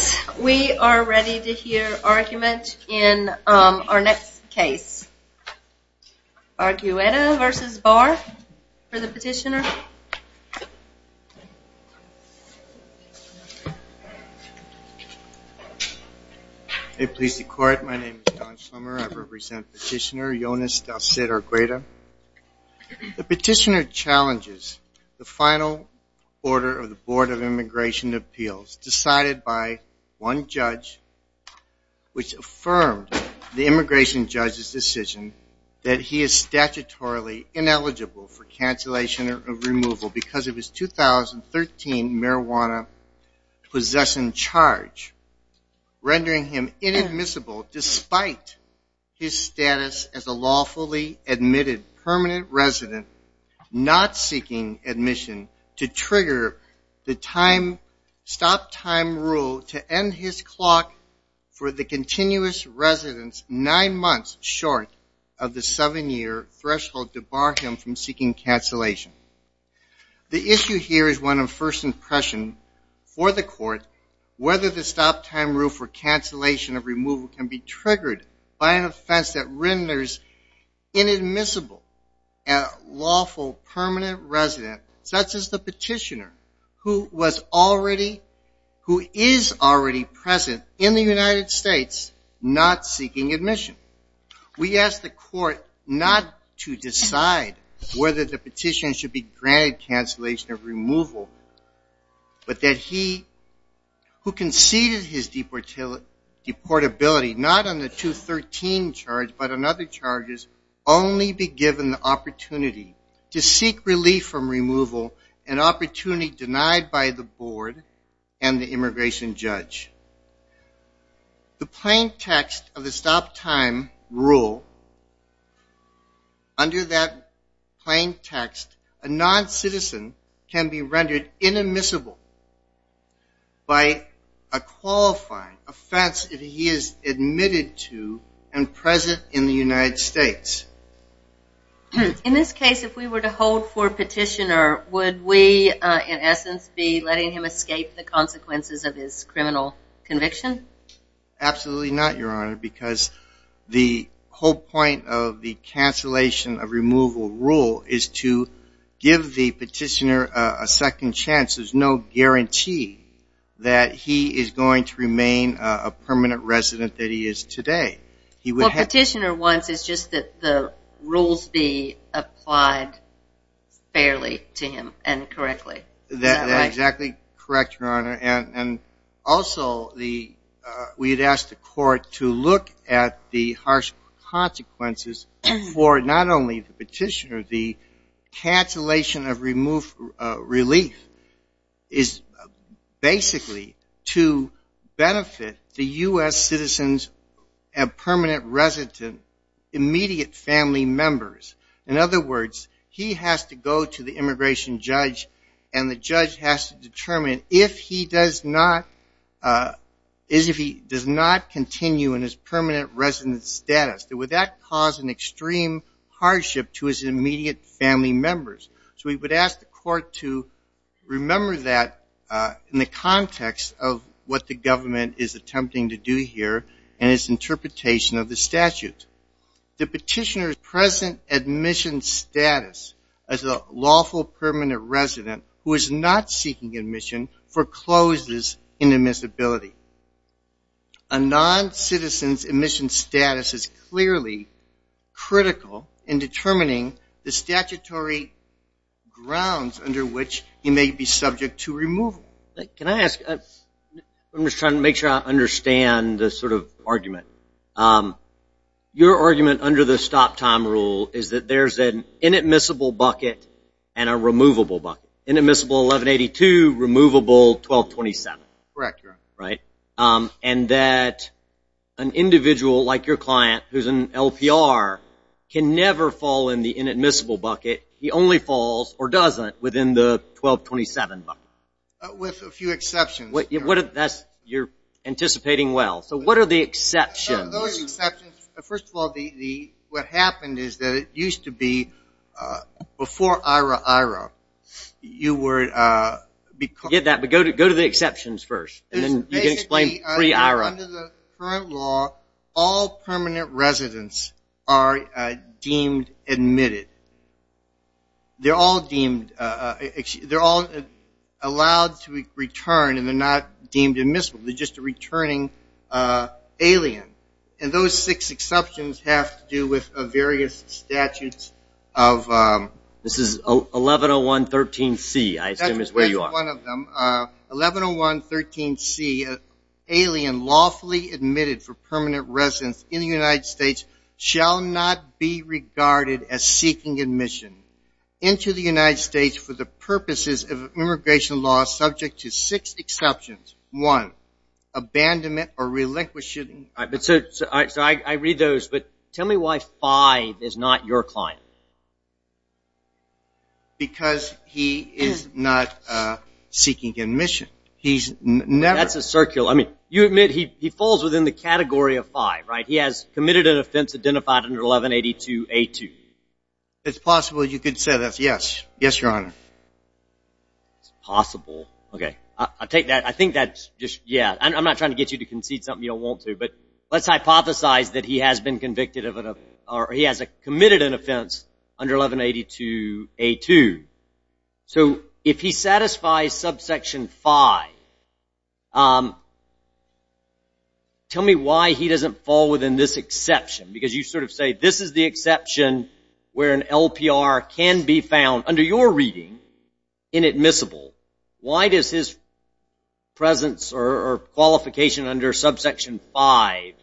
Yes, we are ready to hear argument in our next case. Argueta v. Barr for the petitioner. Please be quiet. My name is Don Schlemmer. I represent petitioner Yonis Del Cid Argueta. The petitioner challenges the final order of the Board of Immigration Appeals decided by one judge which affirmed the immigration judge's decision that he is statutorily ineligible for cancellation of removal because of his 2013 marijuana possession charge, rendering him inadmissible despite his status as a lawfully admitted immigrant. He is a lawfully admitted permanent resident not seeking admission to trigger the stop time rule to end his clock for the continuous residence nine months short of the seven year threshold to bar him from seeking cancellation. The issue here is one of first impression for the court whether the stop time rule for cancellation of removal can be triggered by an offense that renders inadmissible a lawful permanent resident such as the petitioner who is already present in the United States not seeking admission. We ask the court not to decide whether the petitioner should be granted cancellation of removal but that he who conceded his deportability not on the 2013 charge but on other charges only be given the opportunity to seek relief from removal, an opportunity denied by the board and the immigration judge. The plain text of the stop time rule, under that plain text a non-citizen can be rendered inadmissible by a qualifying offense if he is admitted to and present in the United States. In this case if we were to hold for petitioner would we in essence be letting him escape the consequences of his criminal conviction? Absolutely not your honor because the whole point of the cancellation of removal rule is to give the petitioner a second chance, there's no guarantee that he is going to remain a permanent resident that he is today. What petitioner wants is just that the rules be applied fairly to him and correctly. That's exactly correct your honor and also we'd ask the court to look at the harsh consequences for not only the petitioner, the cancellation of relief is basically to benefit the U.S. citizens and permanent resident immediate family members. In other words, he has to go to the immigration judge and the judge has to determine if he does not continue in his permanent resident status, would that cause an extreme hardship to his immediate family members? So we would ask the court to remember that in the context of what the government is attempting to do here and its interpretation of the statute. The petitioner's present admission status as a lawful permanent resident who is not seeking admission forecloses inadmissibility. A non-citizen's admission status is clearly critical in determining the statutory grounds under which he may be subject to removal. Can I ask, I'm just trying to make sure I understand the sort of argument. Your argument under the stop time rule is that there's an inadmissible bucket and a removable bucket. Inadmissible 1182, removable 1227. Correct your honor. And that an individual like your client who's an LPR can never fall in the inadmissible bucket, he only falls or doesn't within the 1227 bucket. With a few exceptions. You're anticipating well. So what are the exceptions? First of all, what happened is that it used to be before IRA, IRA, you were... Forget that, but go to the exceptions first and then you can explain pre-IRA. Under the current law, all permanent residents are deemed admitted. They're all deemed, they're all allowed to return and they're not deemed admissible. They're just a returning alien. And those six exceptions have to do with various statutes of... This is 110113C I assume is where you are. 110113C, alien lawfully admitted for permanent residence in the United States shall not be regarded as seeking admission into the United States for the purposes of immigration law subject to six exceptions. One, abandonment or relinquishing... So I read those, but tell me why five is not your client. Because he is not seeking admission. He's never... That's a circle. I mean, you admit he falls within the category of five, right? He has committed an offense identified under 1182A2. It's possible you could say that's yes. Yes, Your Honor. It's possible. Okay. I'll take that. I think that's just, yeah. I'm not trying to get you to concede something you don't want to. But let's hypothesize that he has been convicted of... Or he has committed an offense under 1182A2. So if he satisfies subsection five, tell me why he doesn't fall within this exception. Because you sort of say this is the exception where an LPR can be found under your reading inadmissible. Why does his presence or qualification under subsection five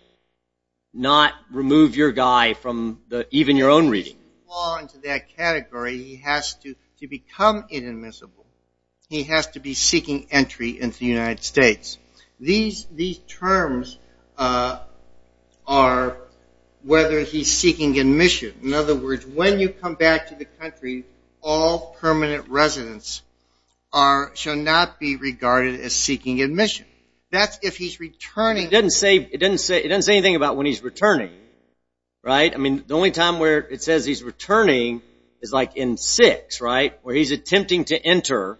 not remove your guy from even your own reading? He doesn't fall into that category. He has to become inadmissible. He has to be seeking entry into the United States. These terms are whether he's seeking admission. In other words, when you come back to the country, all permanent residents shall not be regarded as seeking admission. That's if he's returning. It doesn't say anything about when he's returning, right? I mean, the only time where it says he's returning is, like, in six, right, where he's attempting to enter.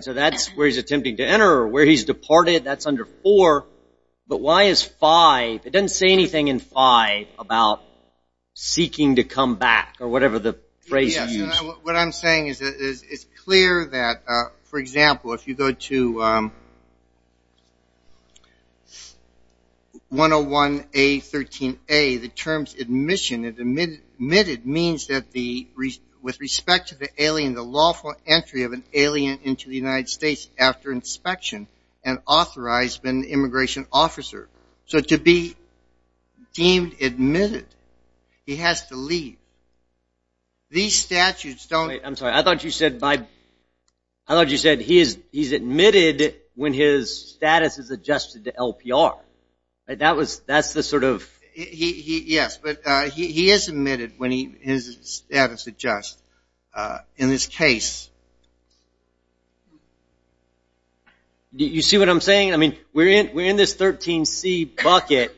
So that's where he's attempting to enter or where he's departed. That's under four. But why is five? It doesn't say anything in five about seeking to come back or whatever the phrase is used. What I'm saying is it's clear that, for example, if you go to 101A13A, the terms admission, admitted means that with respect to the alien, the lawful entry of an alien into the United States after inspection and authorized by an immigration officer. So to be deemed admitted, he has to leave. These statutes don't. I'm sorry. I thought you said he's admitted when his status is adjusted to LPR. That's the sort of. Yes. But he is admitted when his status adjusts in this case. Do you see what I'm saying? I mean, we're in this 13C bucket,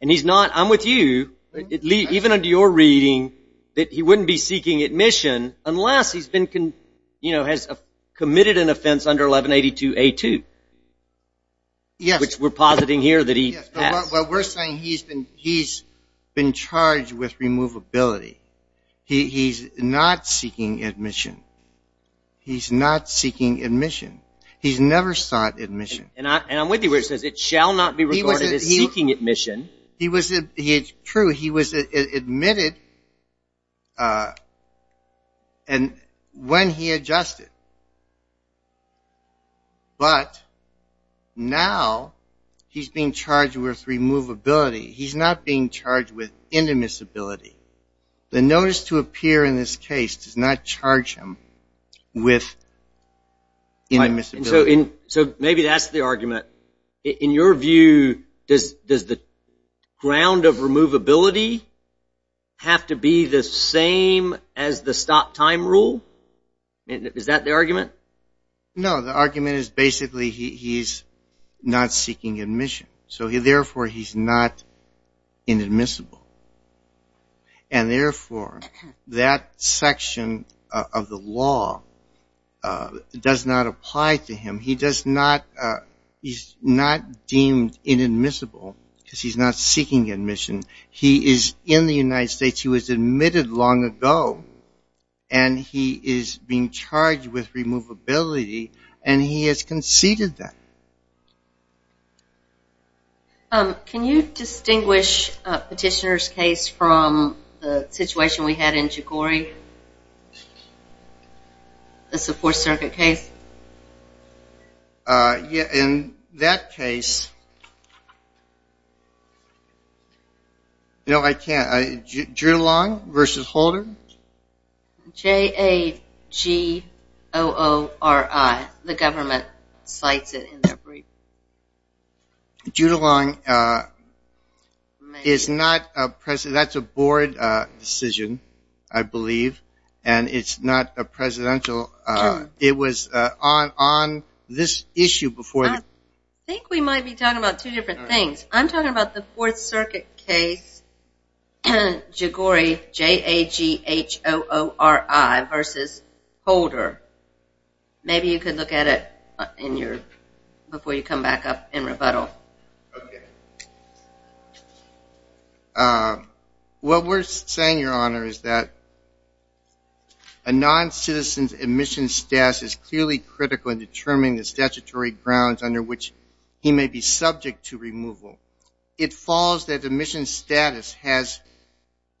and he's not. I'm with you. Even under your reading that he wouldn't be seeking admission unless he's been, you know, has committed an offense under 1182A2. Yes. Which we're positing here that he has. But we're saying he's been charged with removability. He's not seeking admission. He's not seeking admission. He's never sought admission. And I'm with you where it says it shall not be recorded as seeking admission. It's true. He was admitted when he adjusted. But now he's being charged with removability. He's not being charged with indemnizability. The notice to appear in this case does not charge him with indemnizability. So maybe that's the argument. In your view, does the ground of removability have to be the same as the stop time rule? Is that the argument? No. The argument is basically he's not seeking admission. So, therefore, he's not inadmissible. And, therefore, that section of the law does not apply to him. He's not deemed inadmissible because he's not seeking admission. He is in the United States. He was admitted long ago. And he is being charged with removability. And he has conceded that. Can you distinguish Petitioner's case from the situation we had in Jogori, the Fourth Circuit case? In that case, no, I can't. Judulong versus Holder? J-A-G-O-O-R-I. The government cites it in their brief. Judulong is not a president. That's a board decision, I believe. And it's not a presidential. It was on this issue before. I think we might be talking about two different things. I'm talking about the Fourth Circuit case, Jogori, J-A-G-H-O-O-R-I versus Holder. Maybe you could look at it before you come back up in rebuttal. Okay. What we're saying, Your Honor, is that a noncitizen's admission status is clearly critical in determining the statutory grounds under which he may be subject to removal. It falls that admission status has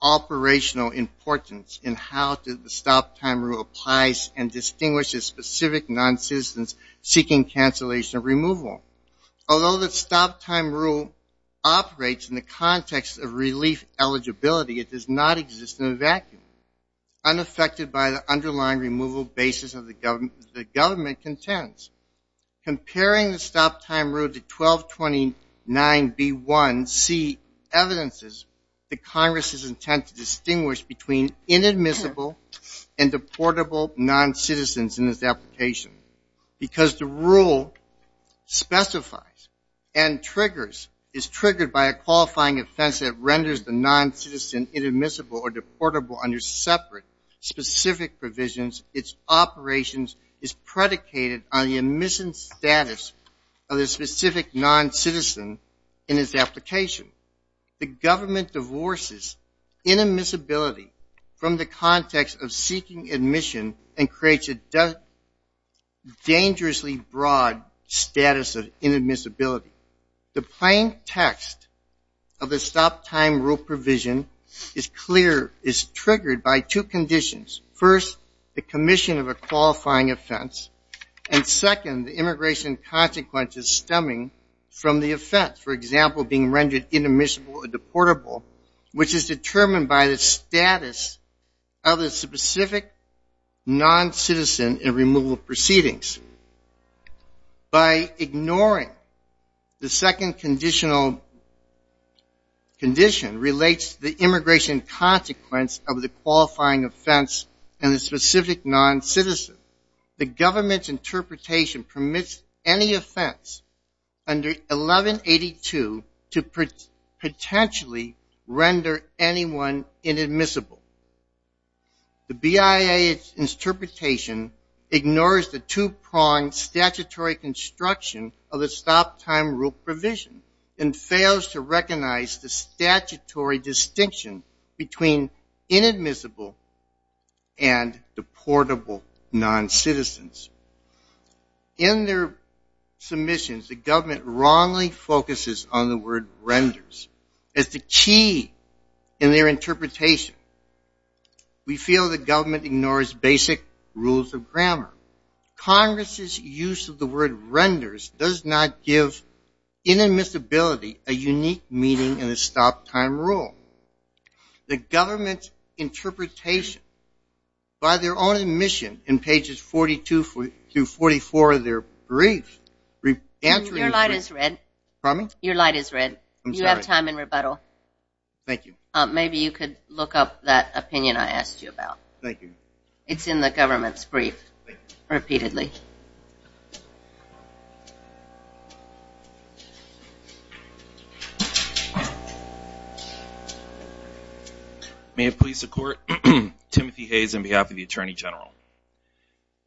operational importance in how the stop-time rule applies and distinguishes specific noncitizens seeking cancellation of removal. Although the stop-time rule operates in the context of relief eligibility, it does not exist in a vacuum. Unaffected by the underlying removal basis that the government contends, comparing the stop-time rule to 1229B1C evidences the Congress's intent to distinguish between inadmissible and deportable noncitizens in this application. Because the rule specifies and triggers, is triggered by a qualifying offense that renders the noncitizen inadmissible or deportable under separate specific provisions, its operations is predicated on the admission status of the specific noncitizen in its application. The government divorces inadmissibility from the context of seeking admission and creates a dangerously broad status of inadmissibility. The plain text of the stop-time rule provision is clear, is triggered by two conditions. First, the commission of a qualifying offense. And second, the immigration consequences stemming from the offense. For example, being rendered inadmissible or deportable, which is determined by the status of the specific noncitizen in removal proceedings. By ignoring the second conditional condition relates to the immigration consequence of the qualifying offense and the specific noncitizen, the government's interpretation permits any offense under 1182 to potentially render anyone inadmissible. The BIA's interpretation ignores the two-prong statutory construction of the stop-time rule provision and fails to recognize the statutory distinction between inadmissible and deportable noncitizens. In their submissions, the government wrongly focuses on the word renders as the key in their interpretation. We feel the government ignores basic rules of grammar. Congress's use of the word renders does not give inadmissibility a unique meaning in a stop-time rule. The government's interpretation by their own admission in pages 42 through 44 of their brief Your light is red. Pardon me? Your light is red. I'm sorry. You have time in rebuttal. Thank you. Maybe you could look up that opinion I asked you about. Thank you. It's in the government's brief. Thank you. Repeatedly. May it please the Court, Timothy Hayes on behalf of the Attorney General.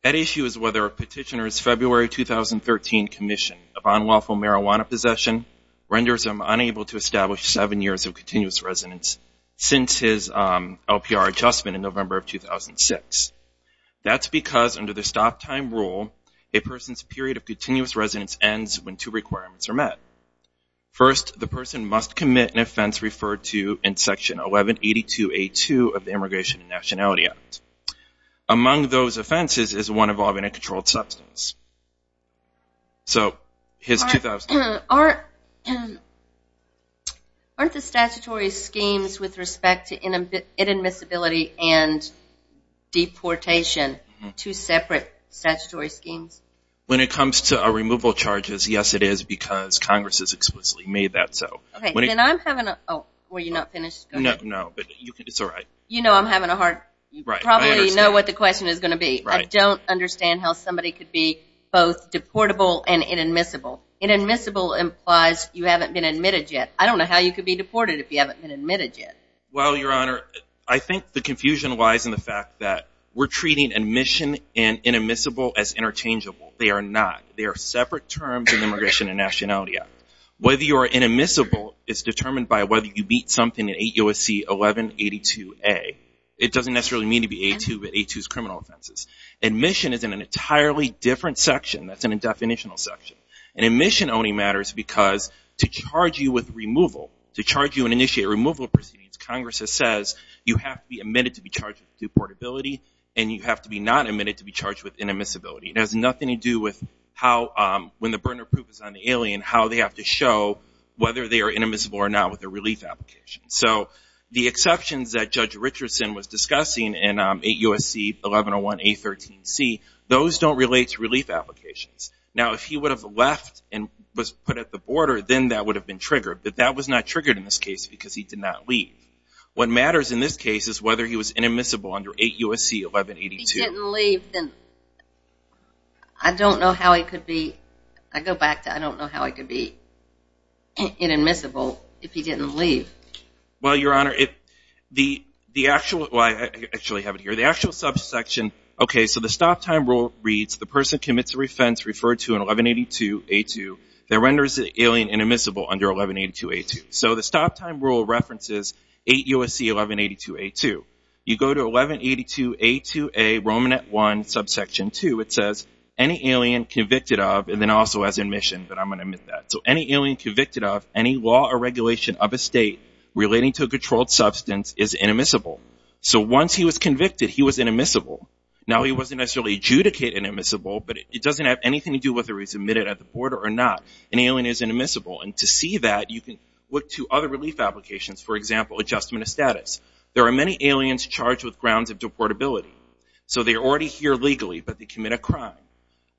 That issue is whether a petitioner's February 2013 commission of unlawful marijuana possession renders him unable to establish seven years of continuous residence since his LPR adjustment in November of 2006. That's because under the stop-time rule, a person's period of continuous residence ends when two requirements are met. First, the person must commit an offense referred to in Section 1182A2 of the Immigration and Nationality Act. Among those offenses is one involving a controlled substance. Aren't the statutory schemes with respect to inadmissibility and deportation two separate statutory schemes? When it comes to removal charges, yes, it is because Congress has explicitly made that so. Were you not finished? No. It's all right. You know I'm having a hard time. You probably know what the question is going to be. I don't understand how somebody could be both deportable and inadmissible. Inadmissible implies you haven't been admitted yet. I don't know how you could be deported if you haven't been admitted yet. Well, Your Honor, I think the confusion lies in the fact that we're treating admission and inadmissible as interchangeable. They are not. They are separate terms in the Immigration and Nationality Act. Whether you are inadmissible is determined by whether you beat something in 8 U.S.C. 1182A. It doesn't necessarily mean to be A2, but A2 is criminal offenses. Admission is in an entirely different section that's in a definitional section. And admission only matters because to charge you with removal, to charge you and initiate removal proceedings, Congress says you have to be admitted to be charged with deportability and you have to be not admitted to be charged with inadmissibility. It has nothing to do with how, when the burden of proof is on the alien, how they have to show whether they are inadmissible or not with a relief application. So the exceptions that Judge Richardson was discussing in 8 U.S.C. 1101A13C, those don't relate to relief applications. Now, if he would have left and was put at the border, then that would have been triggered. But that was not triggered in this case because he did not leave. What matters in this case is whether he was inadmissible under 8 U.S.C. 1182A. If he didn't leave, then I don't know how he could be, I go back to I don't know how he could be inadmissible if he didn't leave. Well, Your Honor, the actual, well, I actually have it here. The actual subsection, okay, so the stop time rule reads, the person commits a offense referred to in 1182A2 that renders the alien inadmissible under 1182A2. So the stop time rule references 8 U.S.C. 1182A2. You go to 1182A2A Romanet 1, subsection 2. It says any alien convicted of, and then also has admission, but I'm going to omit that. So any alien convicted of any law or regulation of a state relating to a controlled substance is inadmissible. So once he was convicted, he was inadmissible. Now, he wasn't necessarily adjudicated inadmissible, but it doesn't have anything to do with whether he's admitted at the border or not. An alien is inadmissible. And to see that, you can look to other relief applications. For example, adjustment of status. There are many aliens charged with grounds of deportability. So they are already here legally, but they commit a crime.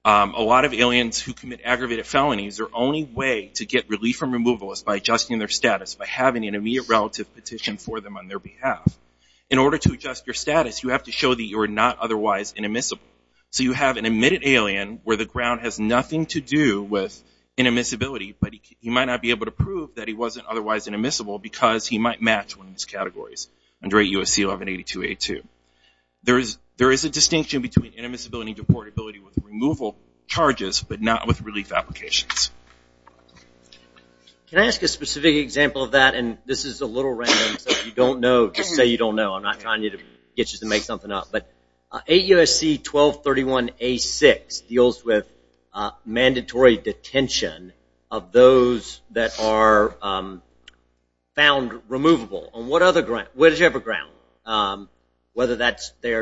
A lot of aliens who commit aggravated felonies, their only way to get relief from removal is by adjusting their status, by having an immediate relative petition for them on their behalf. In order to adjust your status, you have to show that you are not otherwise inadmissible. So you have an admitted alien where the ground has nothing to do with inadmissibility, but he might not be able to prove that he wasn't otherwise inadmissible because he might match one of these categories under 8 U.S.C. 1182A2. There is a distinction between inadmissibility and deportability with removal charges, but not with relief applications. Can I ask a specific example of that? And this is a little random, so if you don't know, just say you don't know. I'm not trying to get you to make something up. But 8 U.S.C. 1231A6 deals with mandatory detention of those that are found removable on whatever ground, whether they are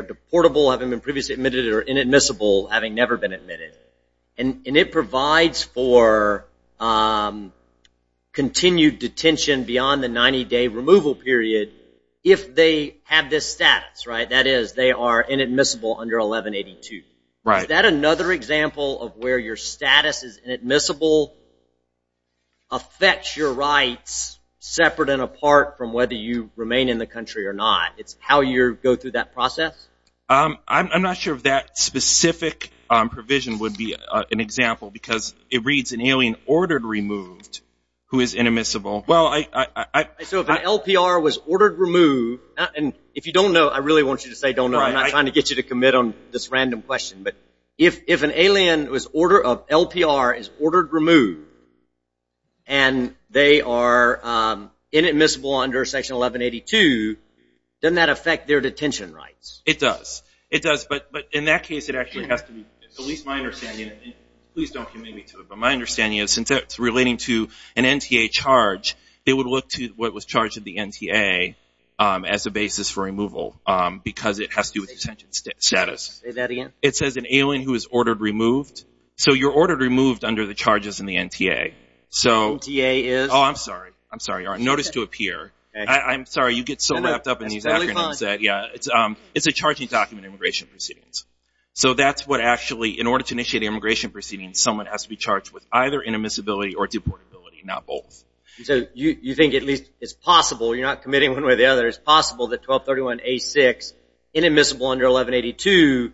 deportable, having been previously admitted, or inadmissible, having never been admitted. And it provides for continued detention beyond the 90-day removal period if they have this status. That is, they are inadmissible under 1182. Is that another example of where your status is inadmissible affects your rights separate and apart from whether you remain in the country or not? It's how you go through that process? I'm not sure if that specific provision would be an example because it reads an alien ordered removed who is inadmissible. So if an LPR was ordered removed, and if you don't know, I really want you to say don't know. I'm not trying to get you to commit on this random question. But if an alien of LPR is ordered removed and they are inadmissible under Section 1182, doesn't that affect their detention rights? It does. It does, but in that case it actually has to be, at least my understanding, and please don't commit me to it, but my understanding is since it's relating to an NTA charge, they would look to what was charged in the NTA as a basis for removal because it has to do with detention status. Say that again? It says an alien who is ordered removed. So you're ordered removed under the charges in the NTA. NTA is? Oh, I'm sorry. I'm sorry. I'm sorry you get so wrapped up in these acronyms. That's really fine. It's a charging document in immigration proceedings. So that's what actually, in order to initiate an immigration proceeding, someone has to be charged with either inadmissibility or deportability, not both. So you think at least it's possible, you're not committing one way or the other, it's possible that 1231A6, inadmissible under 1182,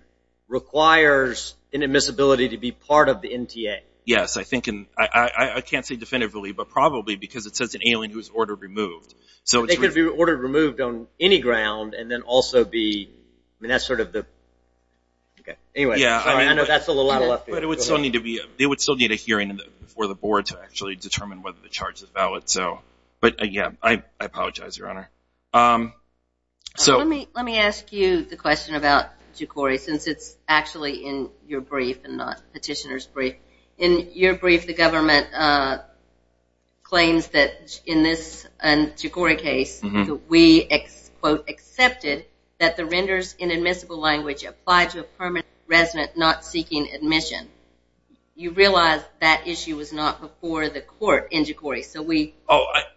requires inadmissibility to be part of the NTA? Yes. I can't say definitively, but probably because it says an alien who is ordered removed. They could be ordered removed on any ground and then also be, I mean, that's sort of the, okay. Anyway, sorry. I know that's a little out of left field. But it would still need to be, it would still need a hearing before the board to actually determine whether the charge is valid. So, but, yeah, I apologize, Your Honor. So. Let me ask you the question about Jukori since it's actually in your brief and not petitioner's brief. In your brief, the government claims that in this Jukori case that we, quote, accepted that the renders inadmissible language applied to a permanent resident not seeking admission. You realize that issue was not before the court in Jukori. So we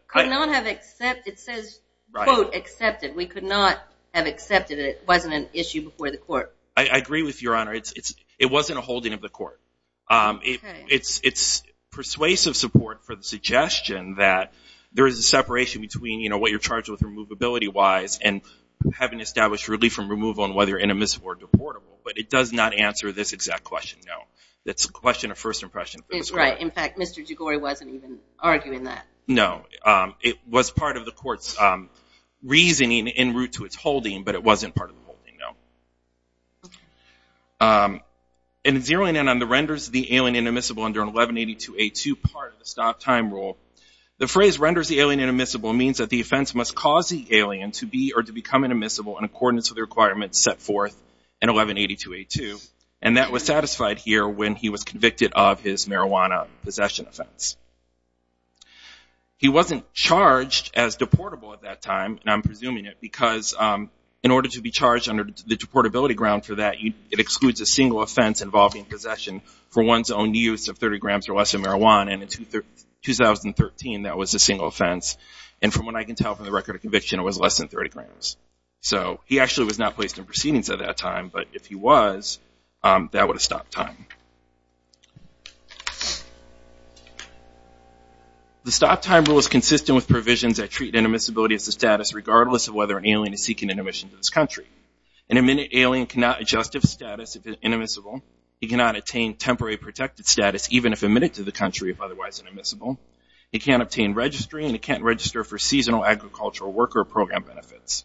could not have accepted, it says, quote, accepted. We could not have accepted it. It wasn't an issue before the court. I agree with you, Your Honor. It wasn't a holding of the court. It's persuasive support for the suggestion that there is a separation between, you know, what you're charged with removability-wise and having established relief from removal and whether inadmissible or deportable. But it does not answer this exact question, no. It's a question of first impression. It's right. In fact, Mr. Jukori wasn't even arguing that. No. It was part of the court's reasoning in route to its holding, but it wasn't part of the holding, no. In zeroing in on the renders the alien inadmissible under 1182A2 part of the stop time rule, the phrase renders the alien inadmissible means that the offense must cause the alien to be or to become inadmissible in accordance with the requirements set forth in 1182A2, and that was satisfied here when he was convicted of his marijuana possession offense. He wasn't charged as deportable at that time, and I'm presuming it, because in order to be charged under the deportability ground for that, it excludes a single offense involving possession for one's own use of 30 grams or less of marijuana, and in 2013 that was a single offense. And from what I can tell from the record of conviction, it was less than 30 grams. So he actually was not placed in proceedings at that time, but if he was, that would have stopped time. The stop time rule is consistent with provisions that treat inadmissibility as a status, regardless of whether an alien is seeking an admission to this country. An admitted alien cannot adjust to the status if inadmissible. He cannot attain temporary protected status even if admitted to the country if otherwise inadmissible. He can't obtain registry, and he can't register for seasonal agricultural worker program benefits.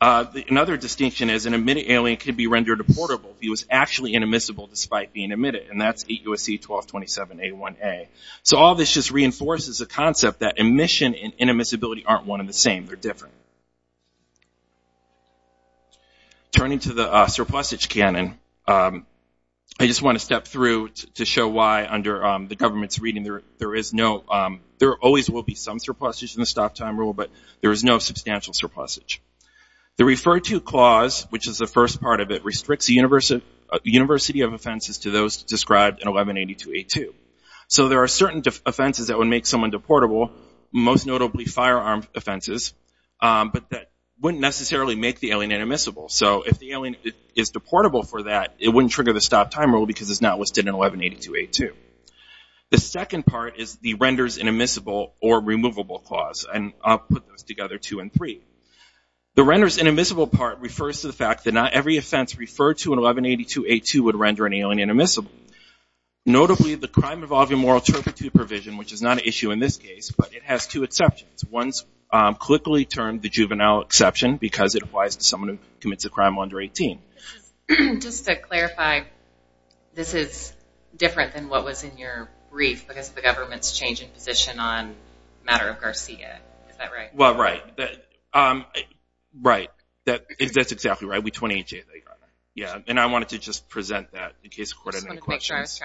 Another distinction is an admitted alien can be rendered deportable if he was actually inadmissible despite being admitted, and that's 8 U.S.C. 1227 A1A. So all this just reinforces the concept that admission and inadmissibility aren't one and the same. They're different. Turning to the surplusage canon, I just want to step through to show why under the government's reading, there always will be some surplusage in the stop time rule, but there is no substantial surplusage. The referred to clause, which is the first part of it, restricts the university of offenses to those described in 1182A2. So there are certain offenses that would make someone deportable, most notably firearm offenses, but that wouldn't necessarily make the alien inadmissible. So if the alien is deportable for that, it wouldn't trigger the stop time rule because it's not listed in 1182A2. The second part is the renders inadmissible or removable clause, and I'll put those together two and three. The renders inadmissible part refers to the fact that not every offense referred to in 1182A2 would render an alien inadmissible, notably the crime involving moral turpitude provision, which is not an issue in this case, but it has two exceptions. One is quickly termed the juvenile exception because it applies to someone who commits a crime under 18. Just to clarify, this is different than what was in your brief because the government's changing position on the matter of Garcia. Right. That's exactly right. I wanted to just present that in case the court had any questions.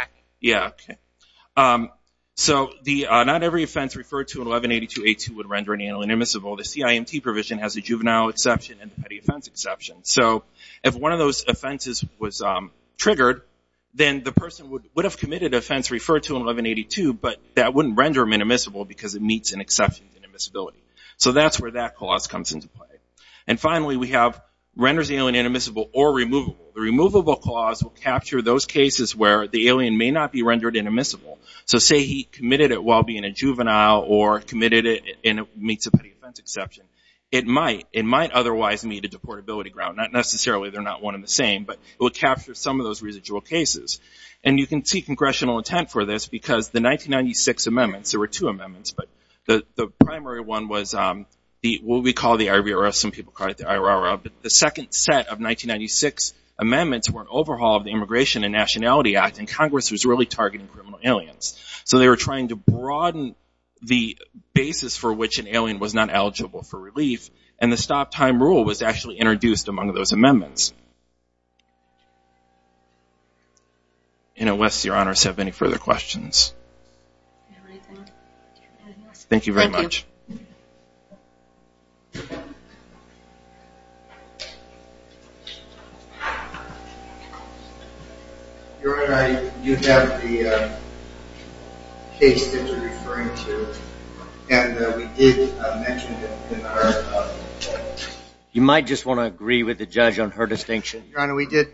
So not every offense referred to in 1182A2 would render an alien inadmissible. The CIMT provision has a juvenile exception and a petty offense exception. So if one of those offenses was triggered, then the person would have committed an offense referred to in 1182, but that wouldn't render them inadmissible because it meets an exception to inadmissibility. So that's where that clause comes into play. And finally, we have renders the alien inadmissible or removable. The removable clause will capture those cases where the alien may not be rendered inadmissible. So say he committed it while being a juvenile or committed it and it meets a petty offense exception. It might. It might otherwise meet a deportability ground. Not necessarily. They're not one and the same, but it would capture some of those residual cases. And you can see congressional intent for this because the 1996 amendments, there were two amendments, but the primary one was what we call the IRR. Some people call it the IRR. But the second set of 1996 amendments were an overhaul of the Immigration and Nationality Act, and Congress was really targeting criminal aliens. So they were trying to broaden the basis for which an alien was not eligible for relief, and the stop time rule was actually introduced among those amendments. And unless your honors have any further questions. Thank you very much. Your Honor, I do have the case that you're referring to, and we did mention it in our. You might just want to agree with the judge on her distinction. Your Honor, we did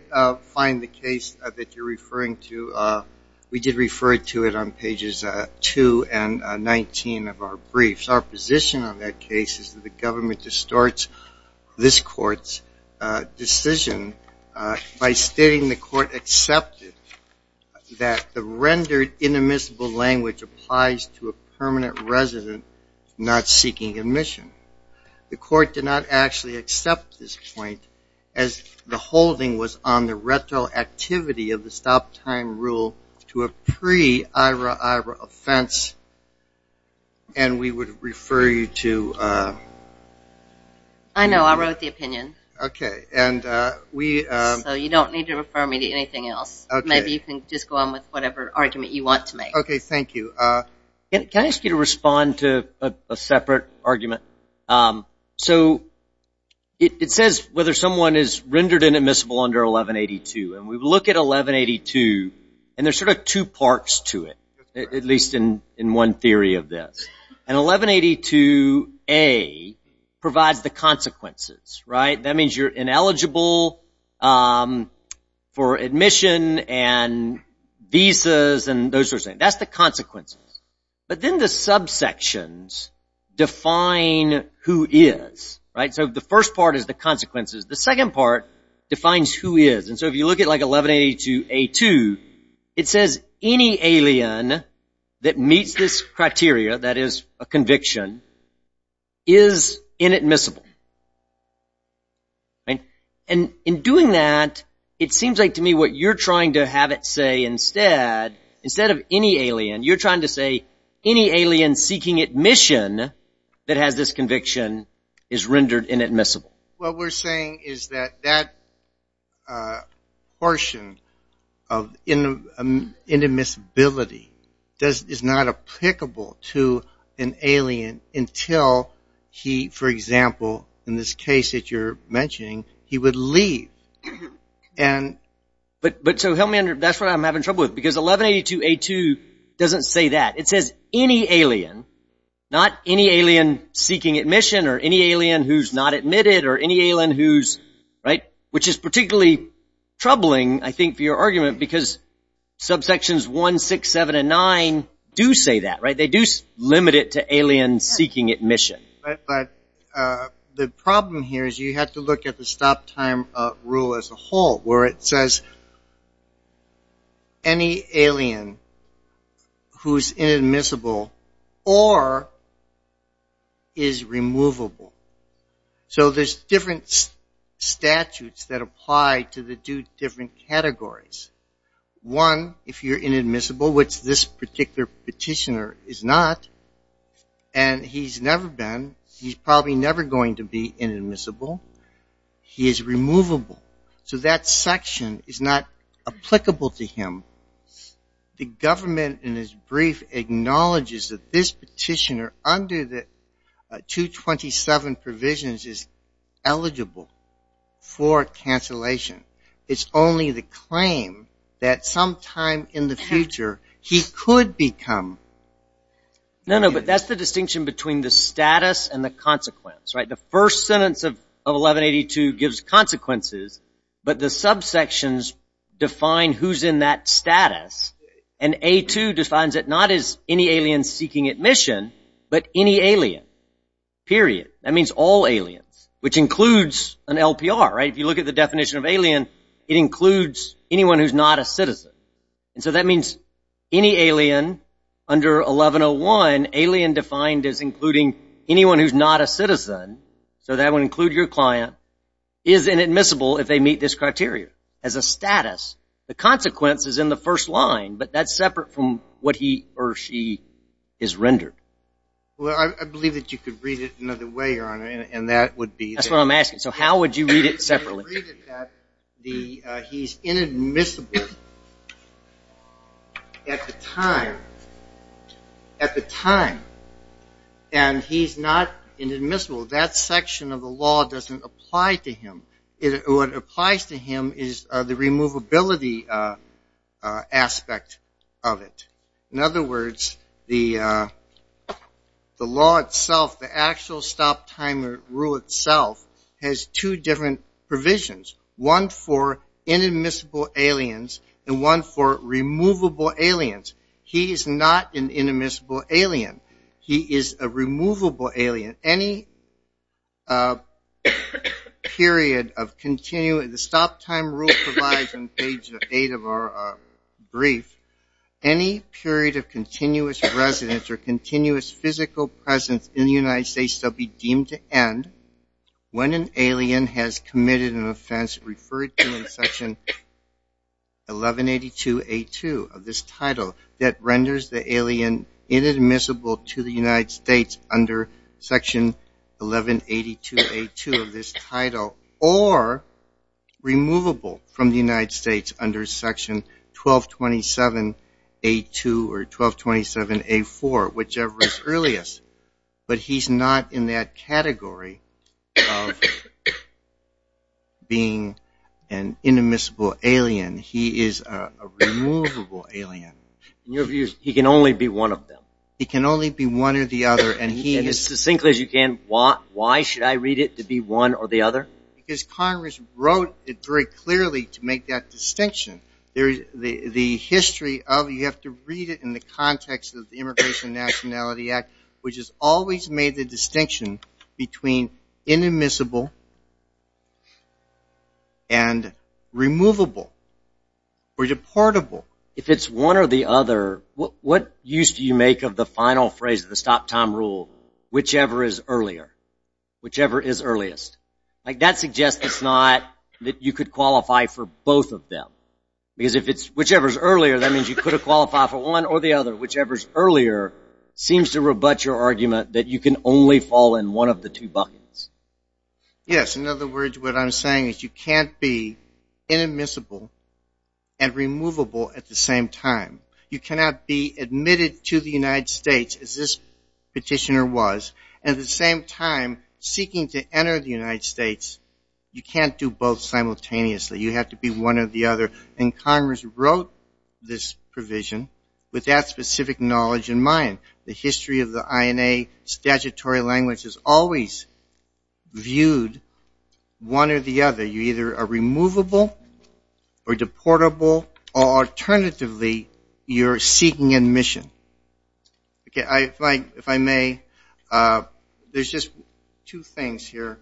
find the case that you're referring to. We did refer to it on pages 2 and 19 of our briefs. Our position on that case is that the government distorts this court's decision by stating the court accepted that the rendered inadmissible language applies to a permanent resident not seeking admission. The court did not actually accept this point as the holding was on the retroactivity of the stop time rule to a pre-Ira-Ira offense, and we would refer you to. I know. I wrote the opinion. Okay. So you don't need to refer me to anything else. Maybe you can just go on with whatever argument you want to make. Okay. Thank you. Can I ask you to respond to a separate argument? So it says whether someone is rendered inadmissible under 1182. And we look at 1182, and there's sort of two parts to it, at least in one theory of this. And 1182A provides the consequences, right? That means you're ineligible for admission and visas and those sorts of things. That's the consequences. But then the subsections define who is, right? So the first part is the consequences. The second part defines who is. And so if you look at, like, 1182A2, it says any alien that meets this criteria, that is, a conviction, is inadmissible. And in doing that, it seems like to me what you're trying to have it say instead, instead of any alien, you're trying to say any alien seeking admission that has this conviction is rendered inadmissible. What we're saying is that that portion of inadmissibility is not applicable to an alien until he, for example, in this case that you're mentioning, he would leave. But so that's what I'm having trouble with. Because 1182A2 doesn't say that. It says any alien, not any alien seeking admission or any alien who's not admitted or any alien who's, right, which is particularly troubling, I think, for your argument. Because subsections 1, 6, 7, and 9 do say that, right? They do limit it to alien seeking admission. But the problem here is you have to look at the stop time rule as a whole, where it says any alien who's inadmissible or is removable. So there's different statutes that apply to the two different categories. One, if you're inadmissible, which this particular petitioner is not, and he's never been, he's probably never going to be inadmissible, he is removable. So that section is not applicable to him. The government in its brief acknowledges that this petitioner under the 227 provisions is eligible for cancellation. It's only the claim that sometime in the future he could become... No, no, but that's the distinction between the status and the consequence, right? The first sentence of 1182 gives consequences, but the subsections define who's in that status. And A2 defines it not as any alien seeking admission, but any alien, period. That means all aliens, which includes an LPR, right? If you look at the definition of alien, it includes anyone who's not a citizen. And so that means any alien under 1101, alien defined as including anyone who's not a citizen, so that would include your client, is inadmissible if they meet this criteria as a status. The consequence is in the first line, but that's separate from what he or she is rendered. Well, I believe that you could read it another way, Your Honor, and that would be... That's what I'm asking. So how would you read it separately? He's inadmissible at the time, and he's not inadmissible. That section of the law doesn't apply to him. What applies to him is the removability aspect of it. In other words, the law itself, the actual stop-time rule itself, has two different provisions, one for inadmissible aliens and one for removable aliens. He is not an inadmissible alien. He is a removable alien. Any period of continuous... The stop-time rule provides on page 8 of our brief, any period of continuous residence or continuous physical presence in the United States shall be deemed to end when an alien has committed an offense referred to in Section 1182A2 of this title that renders the alien inadmissible to the United States under Section 1182A2 of this title or removable from the United States under Section 1227A2 or 1227A4, whichever is earliest. But he's not in that category of being an inadmissible alien. He is a removable alien. In your view, he can only be one of them? He can only be one or the other, and he is... And as succinctly as you can, why should I read it to be one or the other? Because Congress wrote it very clearly to make that distinction. The history of it, you have to read it in the context of the Immigration and Nationality Act, which has always made the distinction between inadmissible and removable or deportable. If it's one or the other, what use do you make of the final phrase of the stop-time rule, whichever is earlier, whichever is earliest? Like, that suggests it's not that you could qualify for both of them. Because if it's whichever is earlier, that means you could have qualified for one or the other. But whichever is earlier seems to rebut your argument that you can only fall in one of the two buckets. Yes, in other words, what I'm saying is you can't be inadmissible and removable at the same time. You cannot be admitted to the United States, as this petitioner was, and at the same time seeking to enter the United States. You can't do both simultaneously. You have to be one or the other. And Congress wrote this provision with that specific knowledge in mind. The history of the INA statutory language has always viewed one or the other. You're either a removable or deportable, or alternatively, you're seeking admission. Okay, if I may, there's just two things here.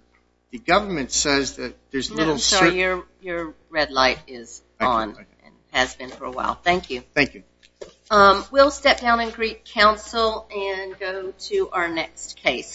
The government says that there's little certainty. Your red light is on and has been for a while. Thank you. Thank you. We'll step down and greet counsel and go to our next case.